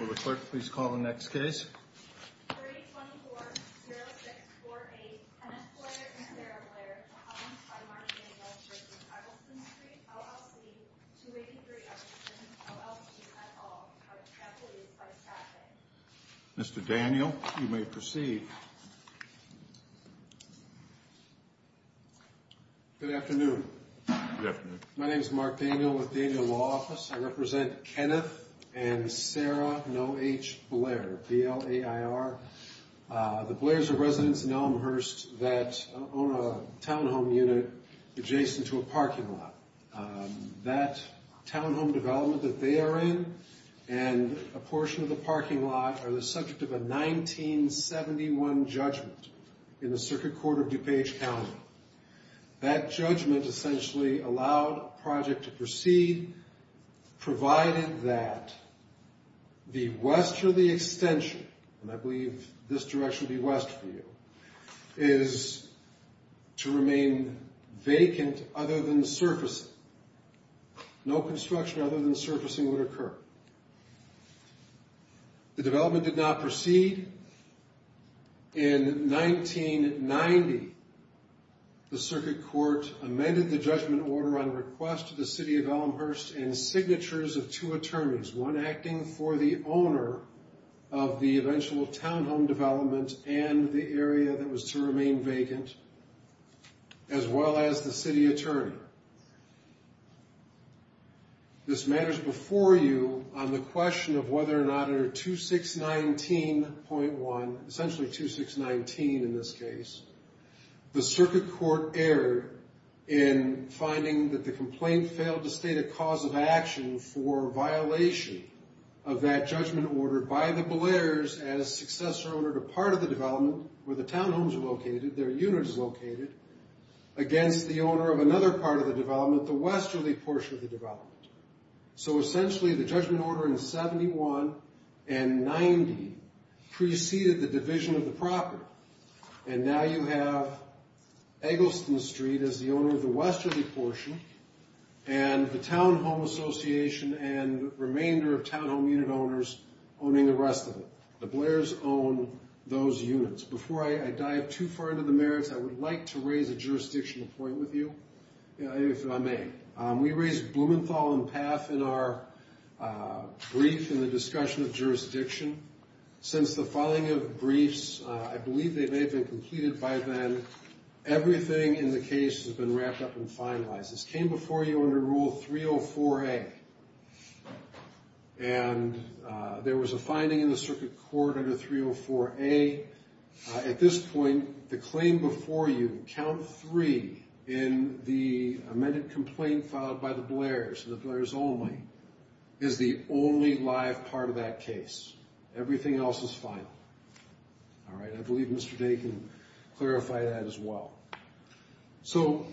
Will the clerk please call the next case? 3-24-06-48 Kenneth Blair and Sarah Blair, accompanied by Mark Daniels from Eggleston Street, LLC, 283 Eggleston, LLC, at all, have a capital use by traffic. Mr. Daniel, you may proceed. Good afternoon. Good afternoon. My name is Mark Daniel with the Daniel Law Office. I represent Kenneth and Sarah, no H, Blair, B-L-A-I-R. The Blairs are residents in Elmhurst that own a townhome unit adjacent to a parking lot. That townhome development that they are in and a portion of the parking lot are the subject of a 1971 judgment in the Circuit Court of DuPage County. That judgment essentially allowed a project to proceed provided that the westerly extension, and I believe this direction would be west for you, is to remain vacant other than surfacing. No construction other than surfacing would occur. The development did not proceed. In 1990, the Circuit Court amended the judgment order on request to the city of Elmhurst and signatures of two attorneys, one acting for the owner of the eventual townhome development and the area that was to remain vacant, as well as the city attorney. This matters before you on the question of whether or not under 2619.1, essentially 2619 in this case, the Circuit Court erred in finding that the complaint failed to state a cause of action for violation of that judgment order by the Blairs as successor owner to part of the development where the townhomes are located, their unit is located, against the owner of another part of the development, the westerly portion of the development. So essentially, the judgment order in 71 and 90 preceded the division of the property, and now you have Eggleston Street as the owner of the westerly portion and the townhome association and remainder of townhome unit owners owning the rest of it. The Blairs own those units. Before I dive too far into the merits, I would like to raise a jurisdictional point with you, if I may. We raised Blumenthal and Paff in our brief in the discussion of jurisdiction. Since the filing of briefs, I believe they may have been completed by then, everything in the case has been wrapped up and finalized. This came before you under Rule 304A, and there was a finding in the Circuit Court under 304A. At this point, the claim before you, Count 3 in the amended complaint filed by the Blairs, the Blairs only, is the only live part of that case. Everything else is final. All right, I believe Mr. Day can clarify that as well. So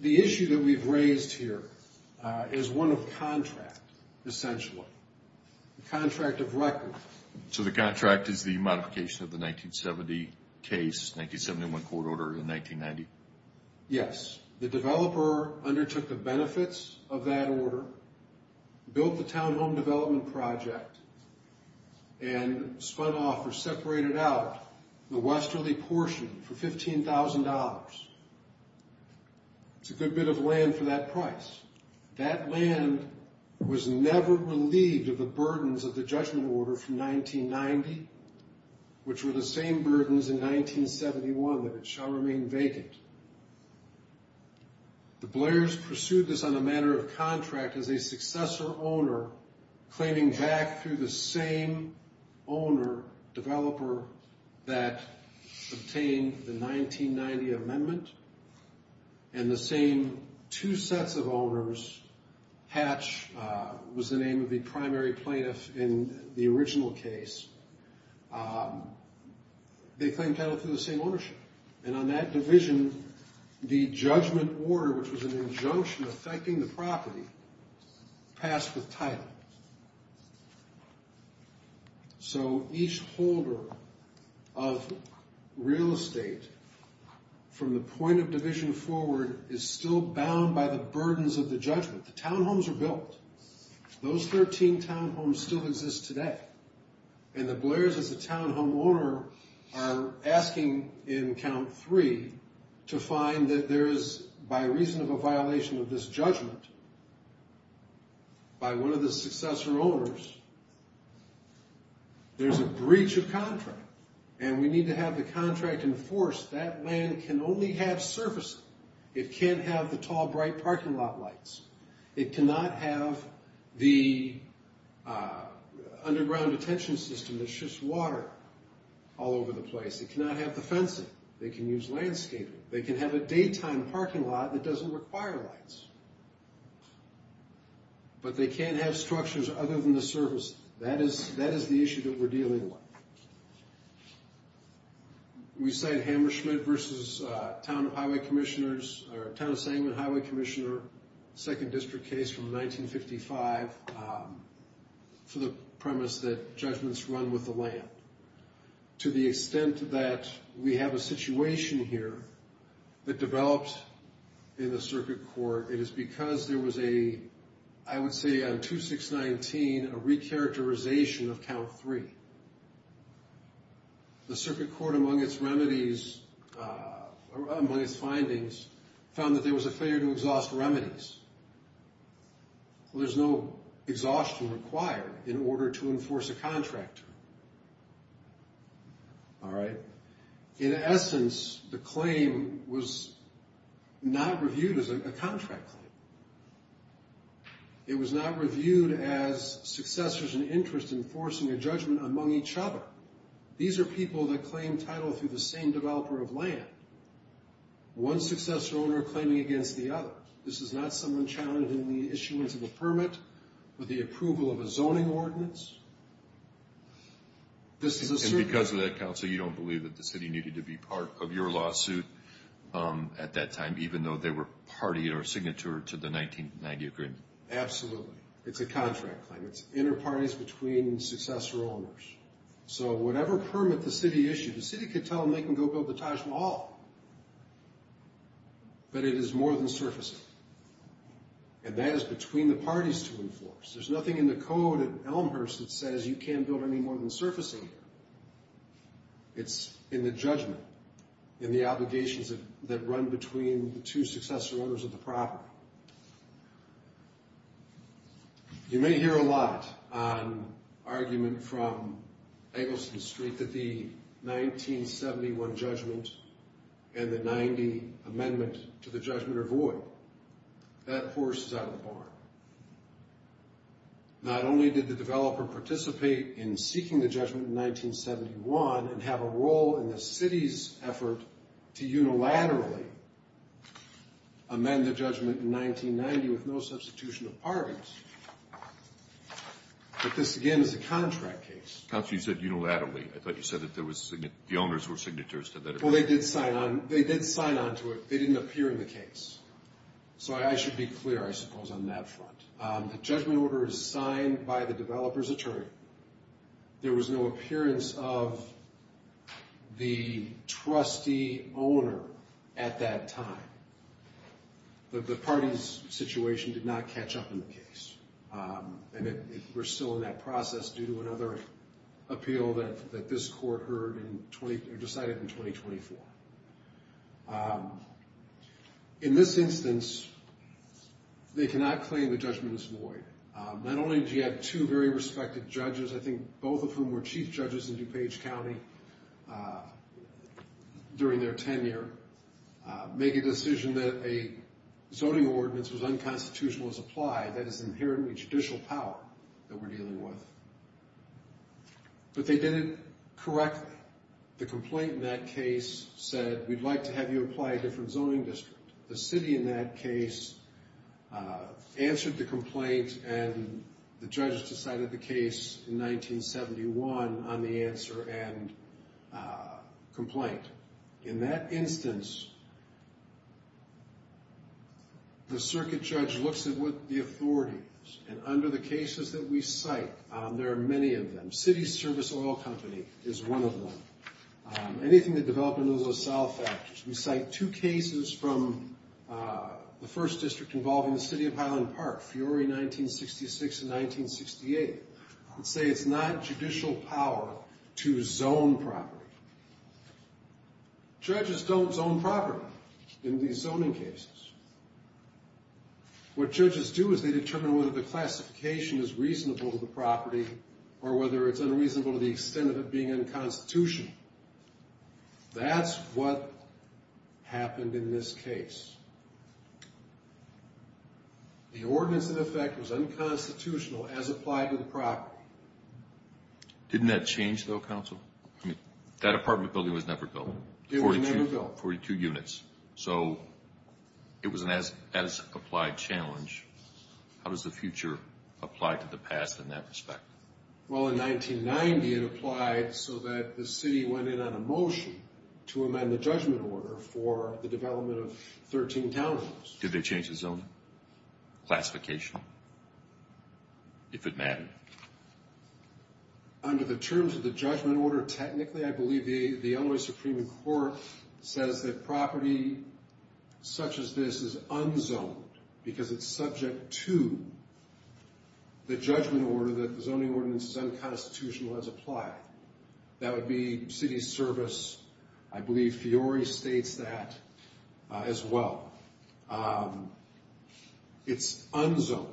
the issue that we've raised here is one of contract, essentially. The contract of record. So the contract is the modification of the 1970 case, 1971 court order in 1990. Yes. The developer undertook the benefits of that order, built the townhome development project, and spun off or separated out the westerly portion for $15,000. It's a good bit of land for that price. That land was never relieved of the burdens of the judgment order from 1990, which were the same burdens in 1971, that it shall remain vacant. The Blairs pursued this on a matter of contract as a successor owner, claiming back through the same owner, developer, that obtained the 1990 amendment, and the same two sets of owners, Hatch was the name of the primary plaintiff in the original case. They claimed title through the same ownership. And on that division, the judgment order, which was an injunction affecting the property, passed with title. So each holder of real estate from the point of division forward is still bound by the burdens of the judgment. The townhomes were built. Those 13 townhomes still exist today. And the Blairs, as a townhome owner, are asking in count three to find that there is, by reason of a violation of this judgment by one of the successor owners, there's a breach of contract, and we need to have the contract enforced. That land can only have surfacing. It can't have the tall, bright parking lot lights. It cannot have the underground detention system that shifts water all over the place. It cannot have the fencing. They can use landscaping. They can have a daytime parking lot that doesn't require lights. But they can't have structures other than the surface. That is the issue that we're dealing with. We cite Hammer-Schmidt versus Town of Sangamon Highway Commissioner second district case from 1955 for the premise that judgments run with the land. To the extent that we have a situation here that developed in the circuit court, it is because there was a, I would say on 2619, a re-characterization of count three. The circuit court, among its remedies, among its findings, found that there was a failure to exhaust remedies. There's no exhaustion required in order to enforce a contract. All right? In essence, the claim was not reviewed as a contract claim. It was not reviewed as successors in interest enforcing a judgment among each other. These are people that claim title through the same developer of land. One successor owner claiming against the other. This is not someone challenging the issuance of a permit with the approval of a zoning ordinance. This is a circuit. And because of that, Counsel, you don't believe that the city needed to be part of your lawsuit at that time, even though they were party or signature to the 1990 agreement? Absolutely. It's a contract claim. It's inter-parties between successor owners. So whatever permit the city issued, the city could tell them they can go build the Taj Mahal. But it is more than surfacing. And that is between the parties to enforce. There's nothing in the code at Elmhurst that says you can't build any more than surfacing here. It's in the judgment, in the obligations that run between the two successor owners of the property. You may hear a lot on argument from Eggleston Street that the 1971 judgment and the 90 amendment to the judgment are void. That horse is out of the barn. Not only did the developer participate in seeking the judgment in 1971 and have a role in the city's effort to unilaterally amend the judgment in 1990 with no substitution of parties, but this, again, is a contract case. Counsel, you said unilaterally. I thought you said that the owners were signatures. Well, they did sign on to it. They didn't appear in the case. So I should be clear, I suppose, on that front. The judgment order is signed by the developer's attorney. There was no appearance of the trustee owner at that time. The parties' situation did not catch up in the case. And we're still in that process due to another appeal that this court heard and decided in 2024. In this instance, they cannot claim the judgment is void. Not only do you have two very respected judges, I think both of whom were chief judges in DuPage County during their tenure, make a decision that a zoning ordinance was unconstitutional as applied, that is inherently judicial power that we're dealing with. But they did it correctly. The complaint in that case said, we'd like to have you apply a different zoning district. The city in that case answered the complaint and the judges decided the case in 1971 on the answer and complaint. In that instance, the circuit judge looks at what the authority is. And under the cases that we cite, there are many of them. City Service Oil Company is one of them. Anything that developed in those LaSalle factors. We cite two cases from the first district involving the city of Highland Park, Fiore 1966 and 1968. I would say it's not judicial power to zone property. Judges don't zone property in these zoning cases. What judges do is they determine whether the classification is reasonable to the property or whether it's unreasonable to the extent of it being unconstitutional. That's what happened in this case. The ordinance in effect was unconstitutional as applied to the property. Didn't that change, though, counsel? That apartment building was never built. It was never built. 42 units. So it was an as-applied challenge. How does the future apply to the past in that respect? Well, in 1990, it applied so that the city went in on a motion to amend the judgment order for the development of 13 townhouses. Did they change the zoning classification? If it mattered. Under the terms of the judgment order, technically, I believe the LA Supreme Court says that property such as this is unzoned because it's subject to the judgment order that the zoning ordinance is unconstitutional as applied. That would be city service. I believe Fiore states that as well. It's unzoned.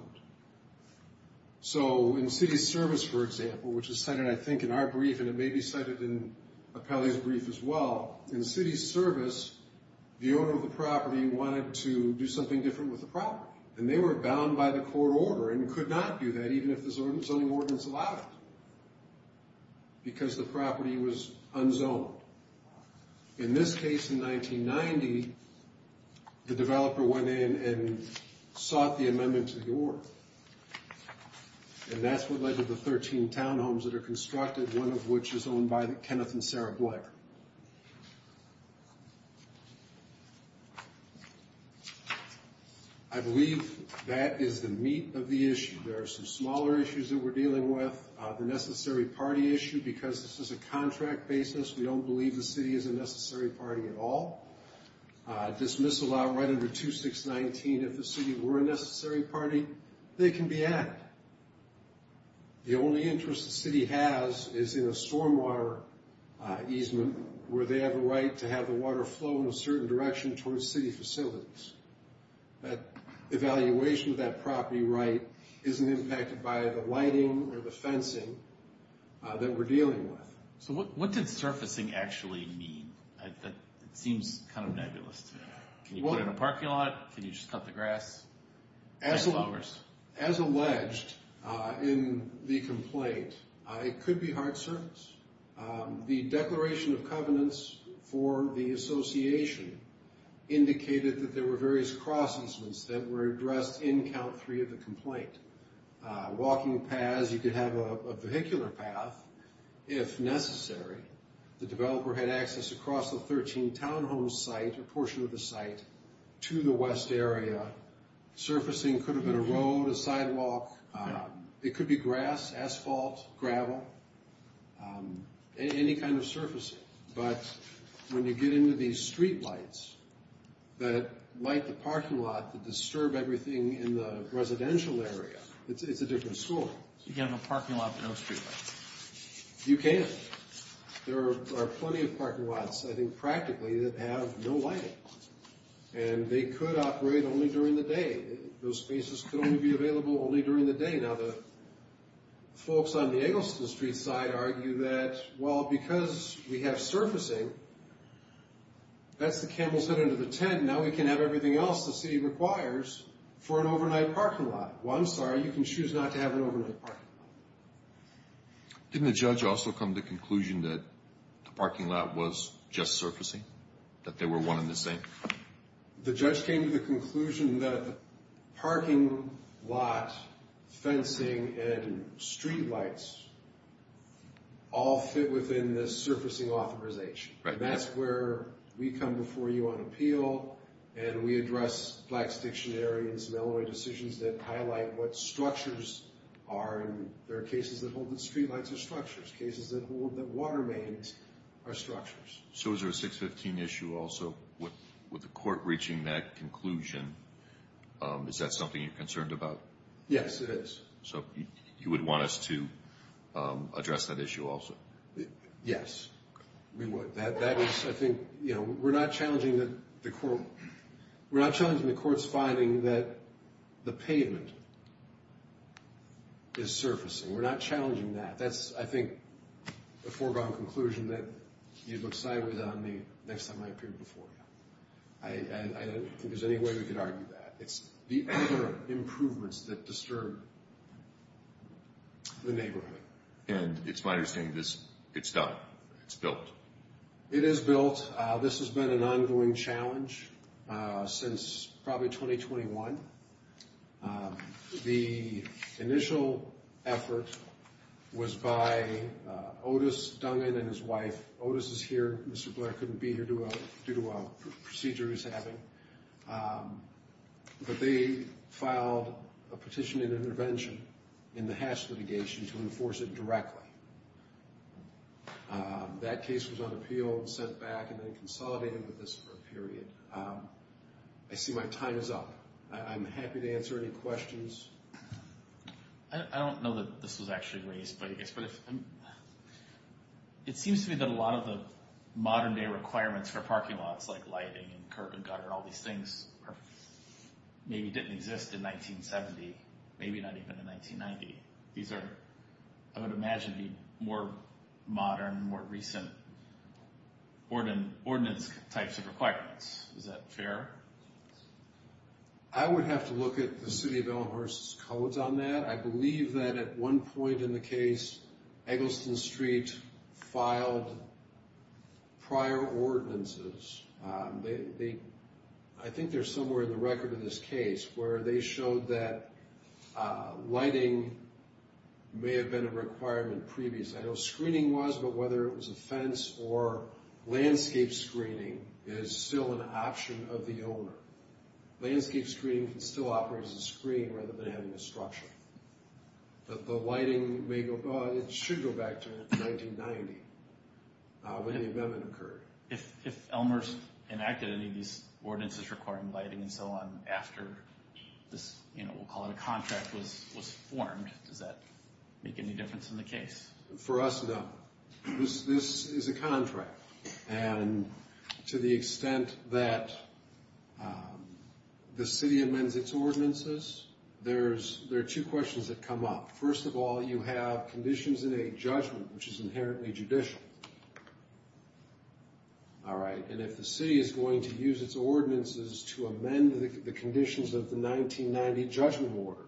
So in city service, for example, which is cited, I think, in our brief, and it may be cited in Appellee's brief as well, in city service, the owner of the property wanted to do something different with the property, and they were bound by the court order and could not do that even if the zoning ordinance allowed it because the property was unzoned. In this case, in 1990, the developer went in and sought the amendment to the order, and that's what led to the 13 townhomes that are constructed, one of which is owned by Kenneth and Sarah Blair. I believe that is the meat of the issue. There are some smaller issues that we're dealing with. The necessary party issue, because this is a contract basis, we don't believe the city is a necessary party at all. Dismissal right under 2619, if the city were a necessary party, they can be added. The only interest the city has is in a stormwater easement where they have a right to have the water flow in a certain direction towards city facilities. Evaluation of that property right isn't impacted by the lighting or the fencing that we're dealing with. What did surfacing actually mean? It seems kind of nebulous. Can you put in a parking lot? Can you just cut the grass? As alleged in the complaint, it could be hard surface. The declaration of covenants for the association indicated that there were various cross-easements that were addressed in count three of the complaint. Walking paths, you could have a vehicular path. If necessary, the developer had access across the 13 townhome site, a portion of the site, to the west area. Surfacing could have been a road, a sidewalk. It could be grass, asphalt, gravel, any kind of surfacing. But when you get into these street lights that light the parking lot that disturb everything in the residential area, it's a different story. You can't have a parking lot with no street lights. You can. There are plenty of parking lots, I think practically, that have no lighting. And they could operate only during the day. Those spaces could only be available only during the day. Now, the folks on the Engleston street side argue that, well, because we have surfacing, that's the camel's head under the tent. Now we can have everything else the city requires for an overnight parking lot. Well, I'm sorry, you can choose not to have an overnight parking lot. Didn't the judge also come to the conclusion that the parking lot was just surfacing, that they were one and the same? The judge came to the conclusion that the parking lot, fencing, and street lights all fit within the surfacing authorization. That's where we come before you on appeal, and we address Black's Dictionary and some Illinois decisions that highlight what structures are. And there are cases that hold that street lights are structures, cases that hold that water mains are structures. So is there a 615 issue also with the court reaching that conclusion? Is that something you're concerned about? Yes, it is. So you would want us to address that issue also? Yes, we would. We're not challenging the court's finding that the pavement is surfacing. We're not challenging that. That's, I think, the foregone conclusion that you'd look sideways on the next time I appear before you. I don't think there's any way we could argue that. It's the other improvements that disturb the neighborhood. And it's my understanding that it's done, it's built. It is built. This has been an ongoing challenge since probably 2021. The initial effort was by Otis Dungan and his wife. Otis is here. Mr. Blair couldn't be here due to a procedure he's having. But they filed a petition and intervention in the Hatch litigation to enforce it directly. That case was on appeal, sent back, and then consolidated with this for a period. I see my time is up. I'm happy to answer any questions. I don't know that this was actually raised, but it seems to me that a lot of the modern-day requirements for parking and sidewalks like lighting and curb and gutter, all these things maybe didn't exist in 1970, maybe not even in 1990. These are, I would imagine, more modern, more recent ordinance types of requirements. Is that fair? I would have to look at the City of Elmhurst's codes on that. I believe that at one point in the case, Eggleston Street filed prior ordinances. I think they're somewhere in the record in this case where they showed that lighting may have been a requirement previously. I know screening was, but whether it was a fence or landscape screening, it is still an option of the owner. Landscape screening still operates as a screen rather than having a structure. The lighting, it should go back to 1990 when the amendment occurred. If Elmhurst enacted any of these ordinances requiring lighting and so on after this, we'll call it a contract, was formed, does that make any difference in the case? For us, no. This is a contract. To the extent that the city amends its ordinances, there are two questions that come up. First of all, you have conditions in a judgment, which is inherently judicial. If the city is going to use its ordinances to amend the conditions of the 1990 Judgment Order,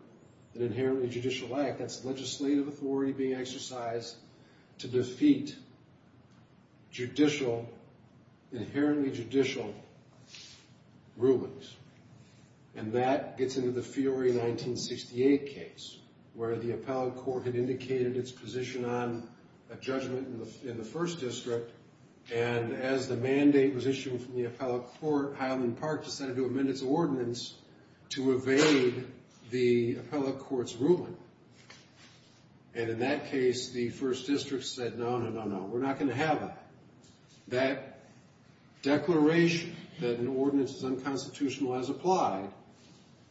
an inherently judicial act, that's legislative authority being exercised to defeat inherently judicial rulings. That gets into the Fiore 1968 case, where the appellate court had indicated its position on a judgment in the 1st District. As the mandate was issued from the appellate court, Highland Park decided to amend its ordinance to evade the appellate court's ruling. In that case, the 1st District said, no, no, no, no, we're not going to have that. That declaration that an ordinance is unconstitutional as applied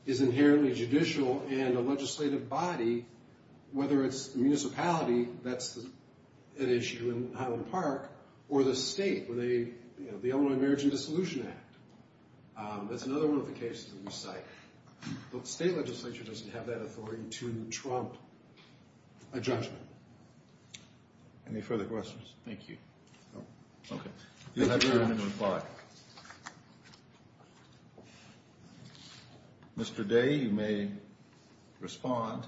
is inherently judicial, and a legislative body, whether it's the municipality, that's an issue in Highland Park, or the state, the Illinois Marriage and Dissolution Act. That's another one of the cases that we cite. The state legislature doesn't have that authority to trump a judgment. Any further questions? Thank you. Okay. If you have any, I'm going to reply. Mr. Day, you may respond.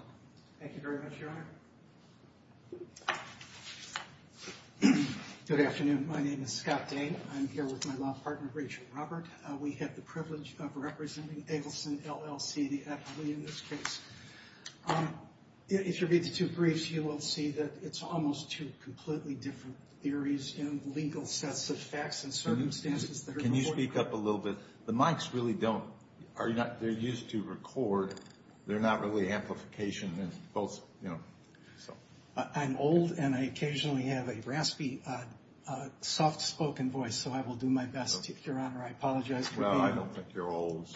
Thank you very much, Your Honor. Good afternoon. My name is Scott Day. I'm here with my law partner, Rachel Robert. We have the privilege of representing Eggleston, LLC, the appellee in this case. If you read the two briefs, you will see that it's almost two completely different theories in legal sets of facts and circumstances that are important. Can you speak up a little bit? The mics really don't. They're used to record. They're not really amplification. I'm old, and I occasionally have a raspy, soft-spoken voice, so I will do my best, Your Honor. I apologize for being old. Well, I don't think you're old.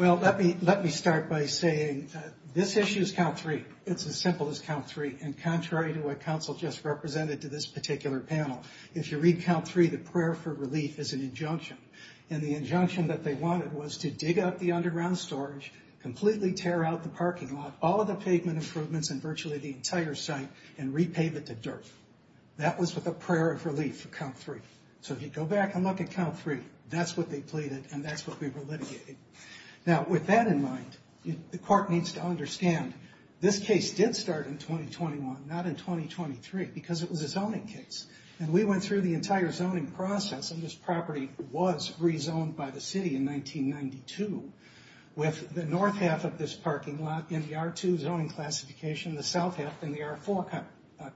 Well, let me start by saying this issue is count three. It's as simple as count three, and contrary to what counsel just represented to this particular panel, if you read count three, the prayer for relief is an injunction, and the injunction that they wanted was to dig up the underground storage, completely tear out the parking lot, all of the pavement improvements and virtually the entire site, and repave it to dirt. That was with a prayer of relief for count three. So if you go back and look at count three, that's what they pleaded, and that's what we were litigating. Now, with that in mind, the court needs to understand, this case did start in 2021, not in 2023, because it was a zoning case, and we went through the entire zoning process, and this property was rezoned by the city in 1992 with the north half of this parking lot in the R2 zoning classification, the south half in the R4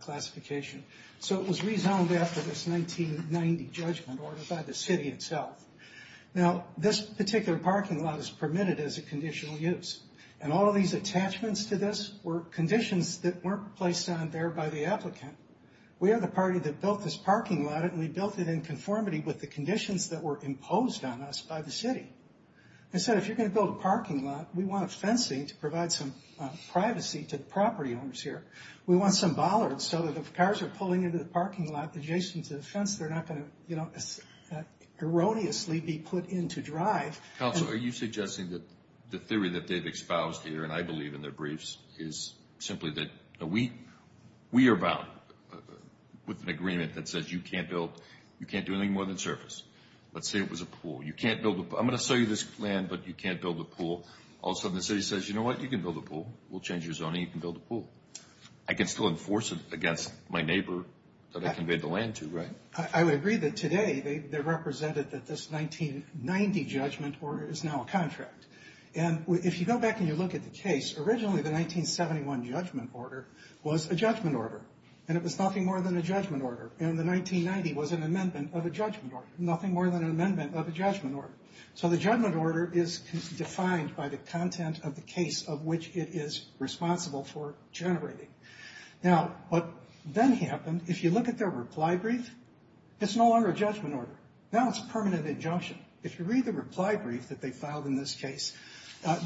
classification. So it was rezoned after this 1990 judgment order by the city itself. Now, this particular parking lot is permitted as a conditional use, and all of these attachments to this were conditions that weren't placed on there by the applicant. We are the party that built this parking lot, and we built it in conformity with the conditions that were imposed on us by the city. Instead, if you're going to build a parking lot, we want a fencing to provide some privacy to the property owners here. We want some bollards so that if cars are pulling into the parking lot adjacent to the fence, they're not going to, you know, erroneously be put into drive. Councilor, are you suggesting that the theory that they've espoused here, and I believe in their briefs, is simply that we are bound with an agreement that says you can't build, you can't do anything more than surface. Let's say it was a pool. You can't build a pool. I'm going to sell you this land, but you can't build a pool. All of a sudden the city says, you know what, you can build a pool. We'll change your zoning, you can build a pool. I can still enforce it against my neighbor that I conveyed the land to, right? I would agree that today they represented that this 1990 judgment order is now a contract. And if you go back and you look at the case, originally the 1971 judgment order was a judgment order, and it was nothing more than a judgment order. And the 1990 was an amendment of a judgment order, nothing more than an amendment of a judgment order. So the judgment order is defined by the content of the case of which it is responsible for generating. Now what then happened, if you look at their reply brief, it's no longer a judgment order. Now it's a permanent injunction. If you read the reply brief that they filed in this case,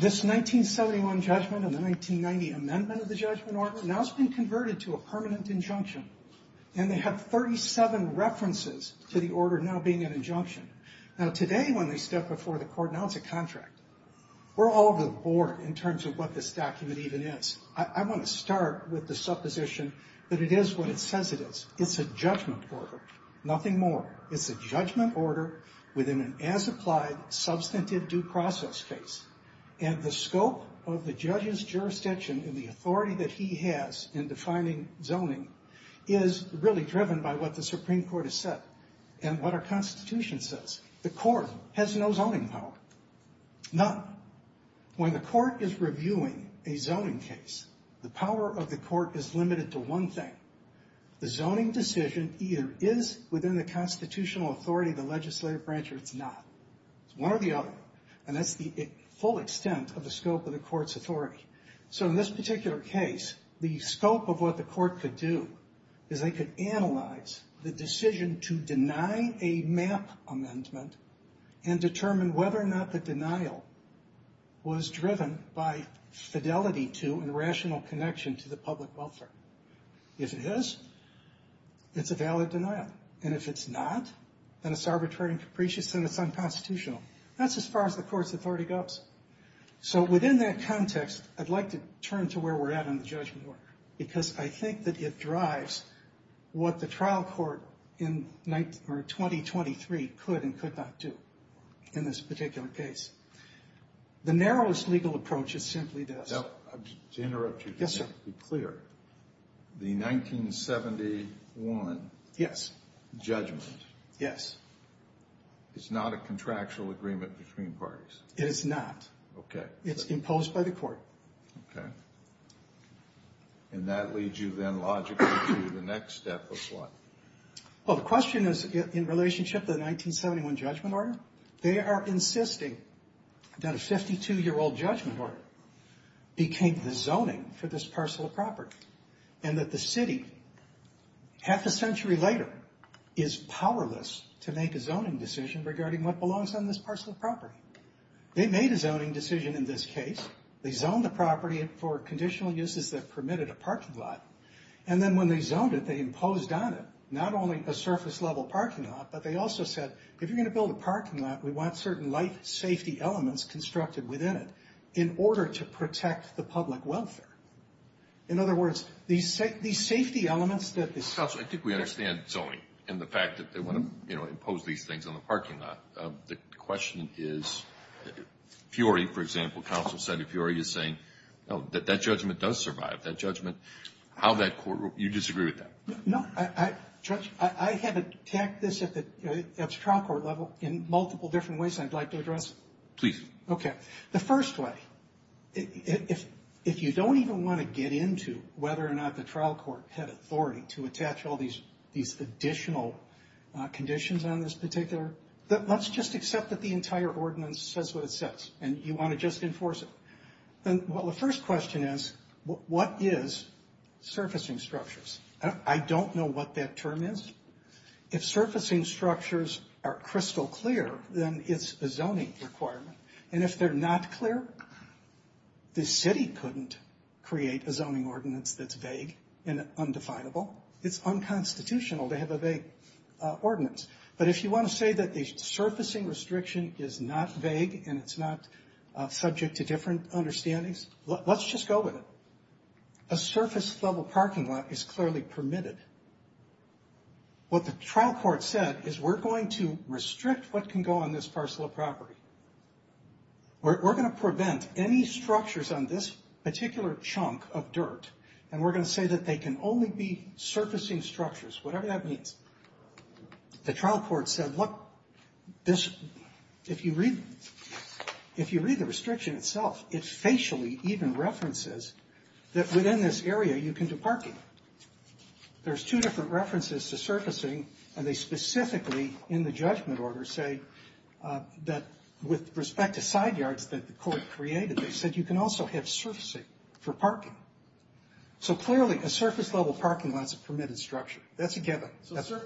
this 1971 judgment and the 1990 amendment of the judgment order, now it's been converted to a permanent injunction. And they have 37 references to the order now being an injunction. Now today when they step before the court, now it's a contract. We're all bored in terms of what this document even is. I want to start with the supposition that it is what it says it is. It's a judgment order, nothing more. It's a judgment order within an as-applied substantive due process case. And the scope of the judge's jurisdiction and the authority that he has in defining zoning is really driven by what the Supreme Court has said and what our Constitution says. The court has no zoning power, none. When the court is reviewing a zoning case, the power of the court is limited to one thing. The zoning decision either is within the constitutional authority of the legislative branch or it's not. It's one or the other. And that's the full extent of the scope of the court's authority. So in this particular case, the scope of what the court could do is they could analyze the decision to deny a MAP amendment and determine whether or not the denial was driven by fidelity to and rational connection to the public welfare. If it is, it's a valid denial. And if it's not, then it's arbitrary and capricious, and it's unconstitutional. That's as far as the court's authority goes. So within that context, I'd like to turn to where we're at on the judgment order because I think that it drives what the trial court in 2023 could and could not do in this particular case. The narrowest legal approach is simply this. To interrupt you, just to be clear. The 1971 judgment is not a contractual agreement between parties. It is not. It's imposed by the court. Okay. And that leads you then logically to the next step of what? Well, the question is in relationship to the 1971 judgment order. They are insisting that a 52-year-old judgment order became the zoning for this parcel of property and that the city, half a century later, is powerless to make a zoning decision regarding what belongs on this parcel of property. They made a zoning decision in this case. They zoned the property for conditional uses that permitted a parking lot, and then when they zoned it, they imposed on it not only a surface-level parking lot, but they also said, if you're going to build a parking lot, we want certain life safety elements constructed within it in order to protect the public welfare. In other words, these safety elements that the city… Counsel, I think we understand zoning and the fact that they want to impose these things on the parking lot. The question is, Fury, for example, counsel said if Fury is saying, no, that judgment does survive, that judgment, how that court… you disagree with that? No. Judge, I had to tack this at the trial court level in multiple different ways I'd like to address. Please. Okay. The first way, if you don't even want to get into whether or not the trial court had authority to attach all these additional conditions on this particular… Let's just accept that the entire ordinance says what it says, and you want to just enforce it. Well, the first question is, what is surfacing structures? I don't know what that term is. If surfacing structures are crystal clear, then it's a zoning requirement. And if they're not clear, the city couldn't create a zoning ordinance that's vague and undefinable. It's unconstitutional to have a vague ordinance. But if you want to say that the surfacing restriction is not vague and it's not subject to different understandings, let's just go with it. A surface-level parking lot is clearly permitted. What the trial court said is, we're going to restrict what can go on this parcel of property. We're going to prevent any structures on this particular chunk of dirt, and we're going to say that they can only be surfacing structures, whatever that means. The trial court said, look, if you read the restriction itself, it facially even references that within this area you can do parking. There's two different references to surfacing, and they specifically, in the judgment order, say that with respect to side yards that the court created, they said you can also have surfacing for parking. So clearly, a surface-level parking lot is a permitted structure. That's a given. So, sir,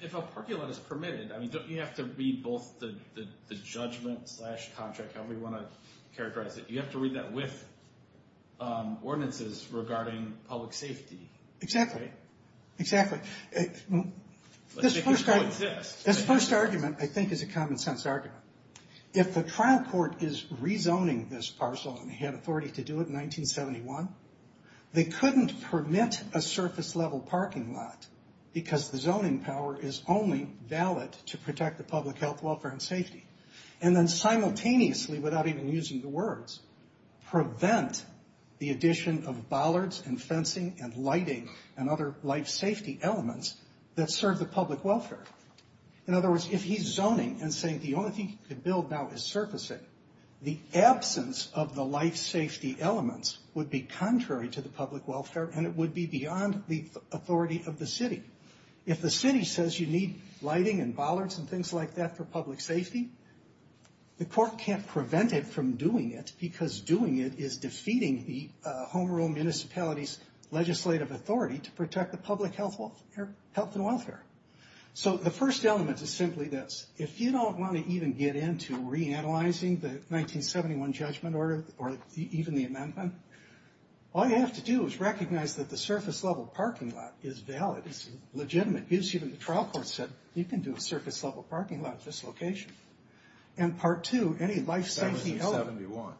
if a parking lot is permitted, you have to read both the judgment-slash-contract, however you want to characterize it. You have to read that with ordinances regarding public safety. Exactly. Let's make it coexist. This first argument, I think, is a common-sense argument. If the trial court is rezoning this parcel, and they had authority to do it in 1971, they couldn't permit a surface-level parking lot because the zoning power is only valid to protect the public health, welfare, and safety, and then simultaneously, without even using the words, prevent the addition of bollards and fencing and lighting and other life-safety elements that serve the public welfare. In other words, if he's zoning and saying the only thing he can build now is surfacing, the absence of the life-safety elements would be contrary to the public welfare, and it would be beyond the authority of the city. If the city says you need lighting and bollards and things like that for public safety, the court can't prevent it from doing it because doing it is defeating the Home Rule Municipality's legislative authority to protect the public health and welfare. So the first element is simply this. If you don't want to even get into reanalyzing the 1971 judgment order or even the amendment, all you have to do is recognize that the surface-level parking lot is valid. It's legitimate. The trial court said you can do a surface-level parking lot at this location. And part two, any life-safety element... In 1971.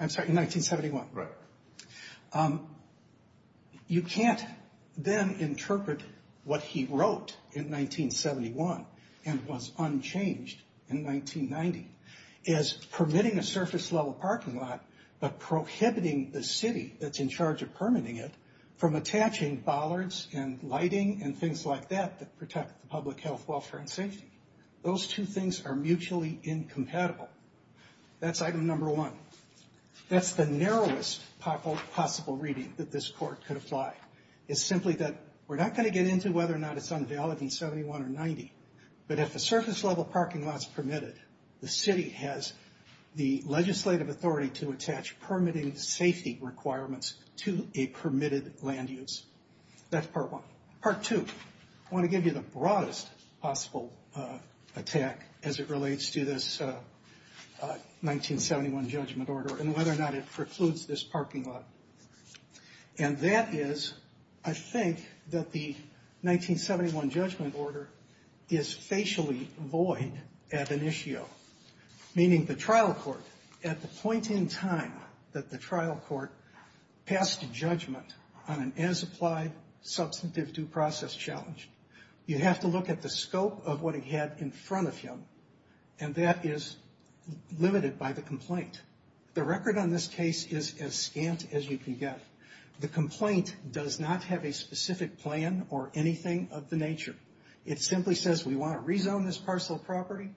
I'm sorry, in 1971. Right. You can't then interpret what he wrote in 1971 and was unchanged in 1990 as permitting a surface-level parking lot but prohibiting the city that's in charge of permitting it from attaching bollards and lighting and things like that that protect the public health, welfare, and safety. Those two things are mutually incompatible. That's item number one. That's the narrowest possible reading that this court could apply. It's simply that we're not going to get into whether or not it's unvalid in 71 or 90, but if a surface-level parking lot's permitted, the city has the legislative authority to attach permitting safety requirements to a permitted land use. That's part one. Part two, I want to give you the broadest possible attack as it relates to this 1971 judgment order and whether or not it precludes this parking lot. And that is, I think, that the 1971 judgment order is facially void ad initio, meaning the trial court, at the point in time that the trial court passed a judgment on an as-applied substantive due process challenge, you have to look at the scope of what it had in front of him, and that is limited by the complaint. The record on this case is as scant as you can get. The complaint does not have a specific plan or anything of the nature. It simply says we want to rezone this parcel of property.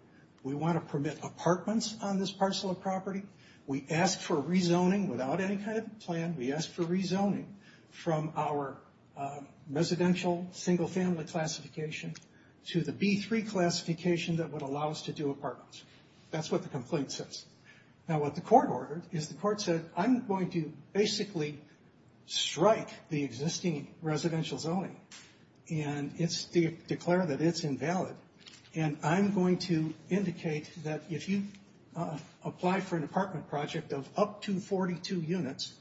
We want to permit apartments on this parcel of property. We ask for rezoning without any kind of plan. We ask for rezoning from our residential single-family classification to the B3 classification that would allow us to do apartments. That's what the complaint says. Now, what the court ordered is the court said, I'm going to basically strike the existing residential zoning, and declare that it's invalid, and I'm going to indicate that if you apply for an apartment project of up to 42 units,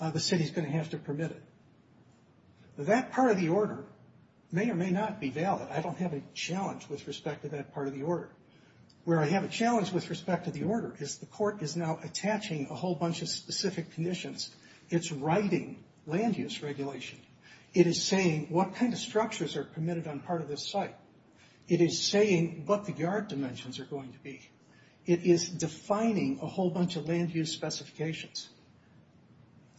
the city's going to have to permit it. That part of the order may or may not be valid. I don't have a challenge with respect to that part of the order. Where I have a challenge with respect to the order is the court is now attaching a whole bunch of specific conditions. It's writing land-use regulation. It is saying what kind of structures are permitted on part of this site. It is saying what the yard dimensions are going to be. It is defining a whole bunch of land-use specifications.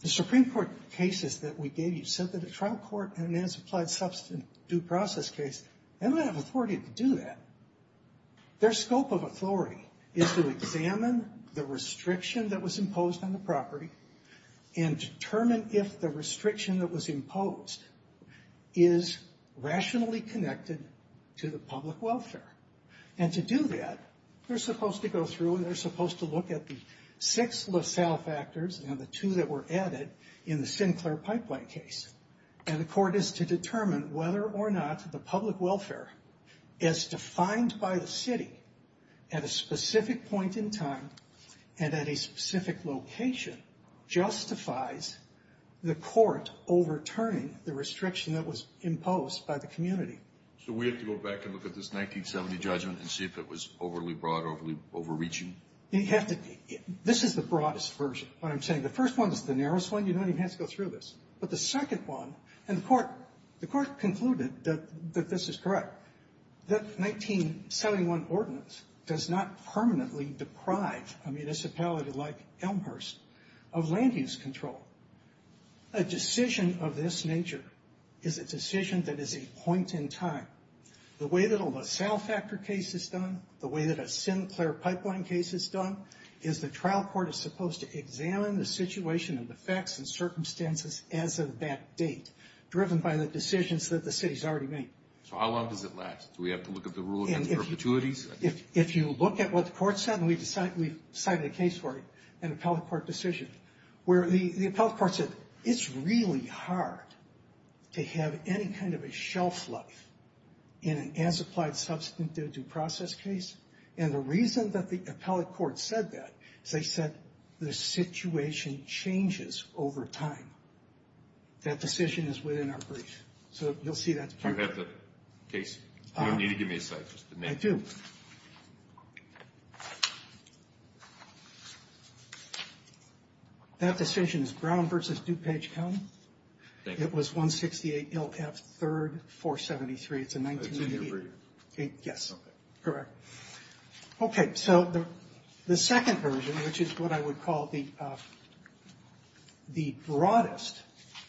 The Supreme Court cases that we gave you said that a trial court and an as-applied substance due process case, they don't have authority to do that. Their scope of authority is to examine the restriction that was imposed on the property and determine if the restriction that was imposed is rationally connected to the public welfare. And to do that, they're supposed to go through and they're supposed to look at the six LaSalle factors and the two that were added in the Sinclair Pipeline case. And the court is to determine whether or not the public welfare is defined by the city at a specific point in time and at a specific location justifies the court overturning the restriction that was imposed by the community. So we have to go back and look at this 1970 judgment and see if it was overly broad, overly overreaching? You have to be. This is the broadest version of what I'm saying. The first one is the narrowest one. You don't even have to go through this. But the second one, and the court concluded that this is correct, the 1971 ordinance does not permanently deprive a municipality like Elmhurst of land use control. A decision of this nature is a decision that is a point in time. The way that a LaSalle factor case is done, the way that a Sinclair Pipeline case is done, is the trial court is supposed to examine the situation and the facts and circumstances as of that date, driven by the decisions that the city's already made. So how long does it last? Do we have to look at the rule and its perpetuities? If you look at what the court said, and we've cited a case for it, an appellate court decision, where the appellate court said, it's really hard to have any kind of a shelf life in an as-applied substantive due process case. And the reason that the appellate court said that is they said the situation changes over time. That decision is within our brief. So you'll see that's part of it. Do you have the case? You don't need to give me a cite, just the name. I do. That decision is Brown v. DuPage County. Thank you. It was 168 LF 3rd 473. It's a 1988. It's in your brief. Yes. Okay. Correct. Okay, so the second version, which is what I would call the broadest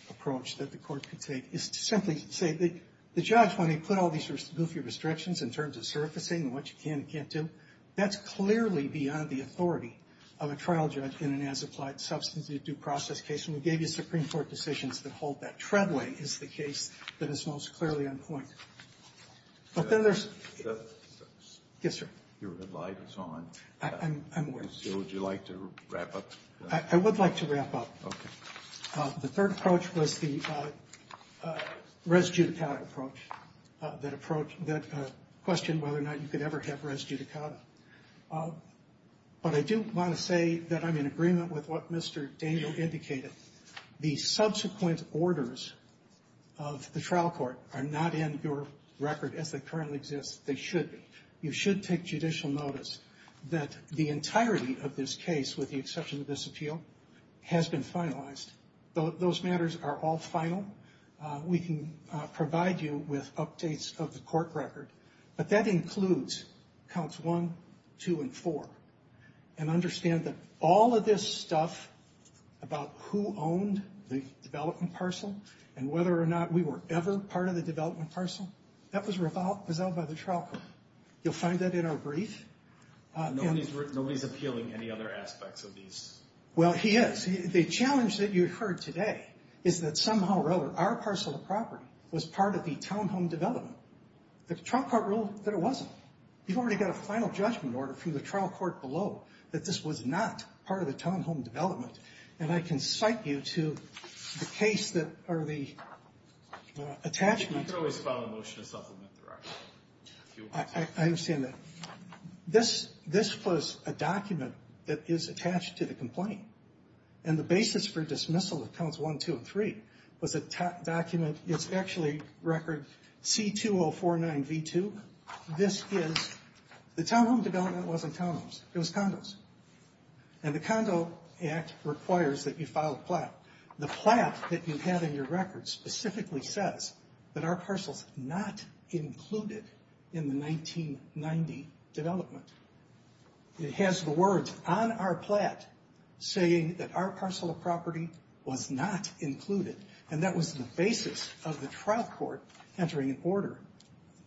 approach that the Court could take, is to simply say that the judge, when he put all these goofy restrictions in terms of surfacing and what you can and can't do, that's clearly beyond the authority of a trial judge in an as-applied substantive due process case. And we gave you Supreme Court decisions that hold that. Treadway is the case that is most clearly on point. But then there's the Yes, sir. Your red light is on. I'm aware. Would you like to wrap up? I would like to wrap up. The third approach was the res judicata approach, that question whether or not you could ever have res judicata. But I do want to say that I'm in agreement with what Mr. Daniel indicated. The subsequent orders of the trial court are not in your record as they currently exist. They should be. You should take judicial notice that the entirety of this case, with the exception of this appeal, has been finalized. Those matters are all final. We can provide you with updates of the court record. But that includes counts one, two, and four. And understand that all of this stuff about who owned the development parcel and whether or not we were ever part of the development parcel, that was resolved by the trial court. You'll find that in our brief. Nobody's appealing any other aspects of these. Well, he is. The challenge that you heard today is that somehow or other, our parcel of property was part of the townhome development. The trial court ruled that it wasn't. You've already got a final judgment order from the trial court below that this was not part of the townhome development. And I can cite you to the case that, or the attachment. You can always file a motion to supplement the record. I understand that. This was a document that is attached to the complaint. And the basis for dismissal of counts one, two, and three was a document. It's actually record C2049V2. This is, the townhome development wasn't townhomes. It was condos. And the Condo Act requires that you file a plat. The plat that you have in your record specifically says that our parcel is not included in the 1990 development. It has the words on our plat saying that our parcel of property was not included. And that was the basis of the trial court entering an order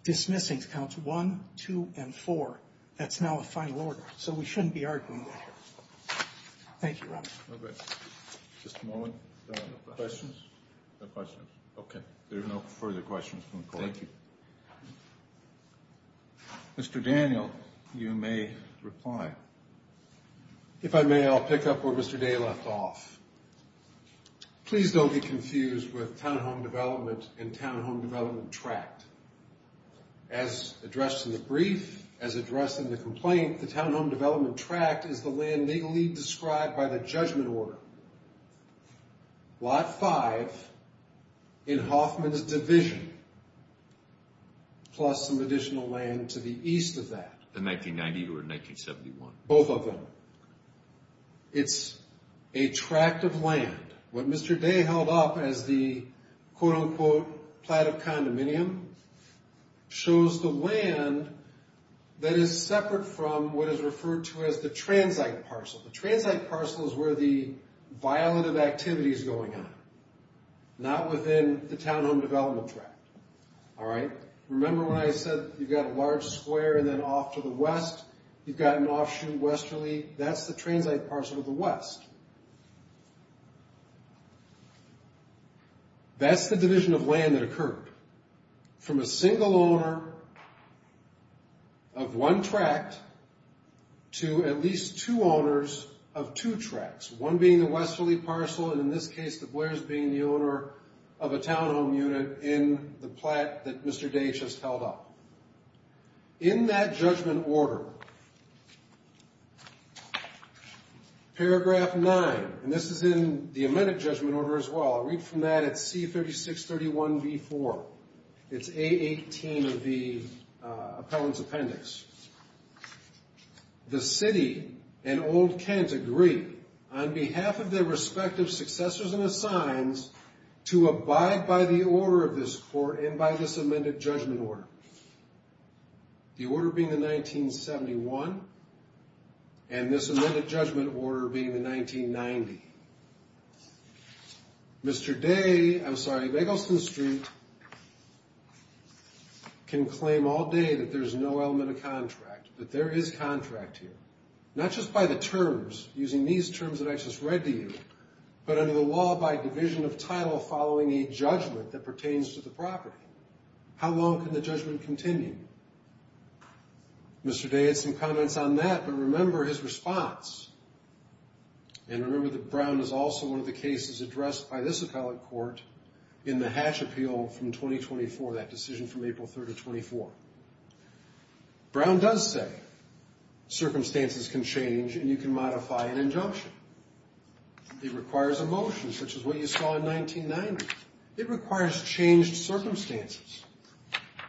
dismissing counts one, two, and four. That's now a final order. So we shouldn't be arguing that here. Thank you, Robert. Okay. Just a moment. No questions? No questions. Okay. There are no further questions from the court. Thank you. Mr. Daniel, you may reply. If I may, I'll pick up where Mr. Day left off. Please don't be confused with townhome development and townhome development tract. As addressed in the brief, as addressed in the complaint, the townhome development tract is the land legally described by the judgment order. Lot five in Hoffman's division plus some additional land to the east of that. The 1990 or 1971? Both of them. It's a tract of land. What Mr. Day held up as the, quote, unquote, plat of condominium shows the land that is separate from what is referred to as the transite parcel. The transite parcel is where the violative activity is going on, not within the townhome development tract. All right? Remember when I said you've got a large square and then off to the west, you've got an offshoot westerly? That's the transite parcel to the west. That's the division of land that occurred. From a single owner of one tract to at least two owners of two tracts, one being the westerly parcel and, in this case, the Blairs being the owner of a townhome unit in the plat that Mr. Day just held up. In that judgment order, paragraph 9, and this is in the amended judgment order as well, I'll read from that at C3631B4. It's A18 of the appellant's appendix. The city and old Kent agree on behalf of their respective successors and assigns to abide by the order of this court and by this amended judgment order. The order being the 1971 and this amended judgment order being the 1990. Mr. Day, I'm sorry, Begleston Street can claim all day that there's no element of contract, that there is contract here, not just by the terms using these terms that I just read to you, but under the law by division of title following a judgment that pertains to the property. How long can the judgment continue? Mr. Day had some comments on that, but remember his response. And remember that Brown is also one of the cases addressed by this appellate court in the Hatch Appeal from 2024, that decision from April 3rd of 24. Brown does say circumstances can change and you can modify an injunction. It requires a motion, such as what you saw in 1990. It requires changed circumstances.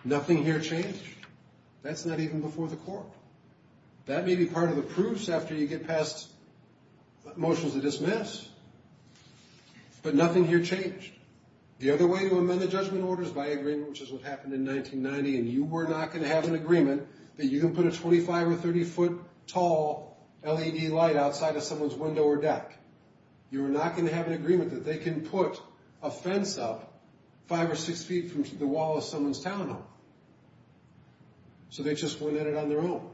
Nothing here changed. That's not even before the court. That may be part of the proofs after you get past motions to dismiss, but nothing here changed. The other way to amend the judgment order is by agreement, which is what happened in 1990, and you were not going to have an agreement that you can put a 25 or 30 foot tall LED light outside of someone's window or deck. You were not going to have an agreement that they can put a fence up five or six feet from the wall of someone's town home. So they just went at it on their own.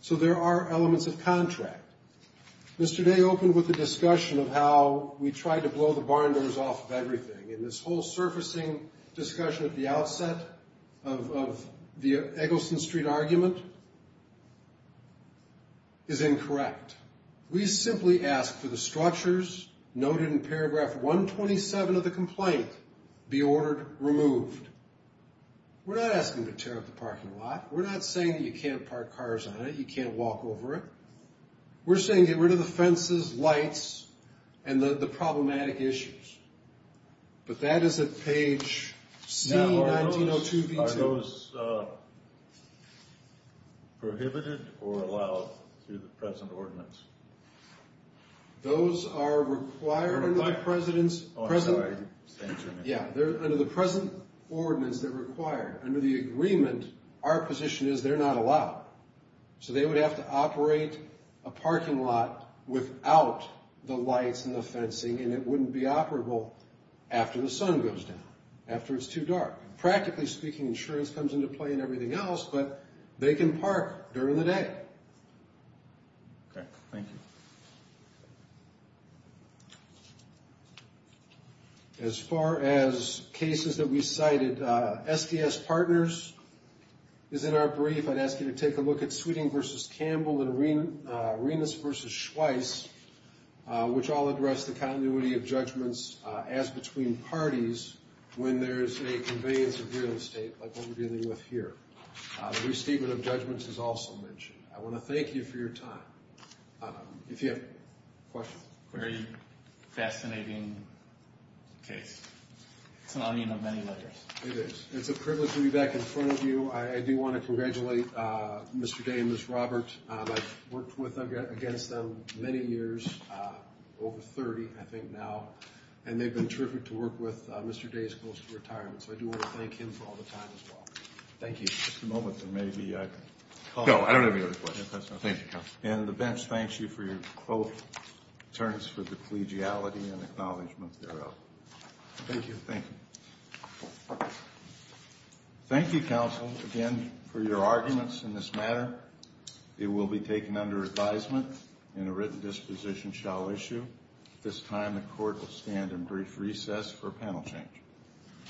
So there are elements of contract. Mr. Day opened with a discussion of how we tried to blow the barn doors off of everything, and this whole surfacing discussion at the outset of the Eggleston Street argument is incorrect. We simply asked for the structures noted in paragraph 127 of the complaint be ordered removed. We're not asking you to tear up the parking lot. We're not saying that you can't park cars on it. You can't walk over it. We're saying get rid of the fences, lights, and the problematic issues. But that is at page C, 1902B2. Are those prohibited or allowed through the present ordinance? Those are required under the present ordinance that require. Under the agreement, our position is they're not allowed. So they would have to operate a parking lot without the lights and the fencing, and it wouldn't be operable after the sun goes down, after it's too dark. Practically speaking, insurance comes into play and everything else, but they can park during the day. Okay, thank you. As far as cases that we cited, SDS Partners is in our brief. I'd ask you to take a look at Sweeting v. Campbell and Rinas v. Schweiss, which all address the continuity of judgments as between parties when there's a convenience of real estate like what we're dealing with here. The restatement of judgments is also mentioned. I want to thank you for your time. If you have questions. Very fascinating case. It's an onion of many layers. It is. It's a privilege to be back in front of you. I do want to congratulate Mr. Day and Ms. Robert. I've worked against them many years, over 30 I think now, and they've been terrific to work with. Mr. Day is close to retirement, so I do want to thank him for all the time as well. Thank you. Just a moment. There may be a call. No, I don't have any other questions. Thank you, counsel. And the bench thanks you for your quote, turns for the collegiality and acknowledgement thereof. Thank you. Thank you. Thank you, counsel, again, for your arguments in this matter. It will be taken under advisement and a written disposition shall issue. At this time, the court will stand in brief recess for panel change.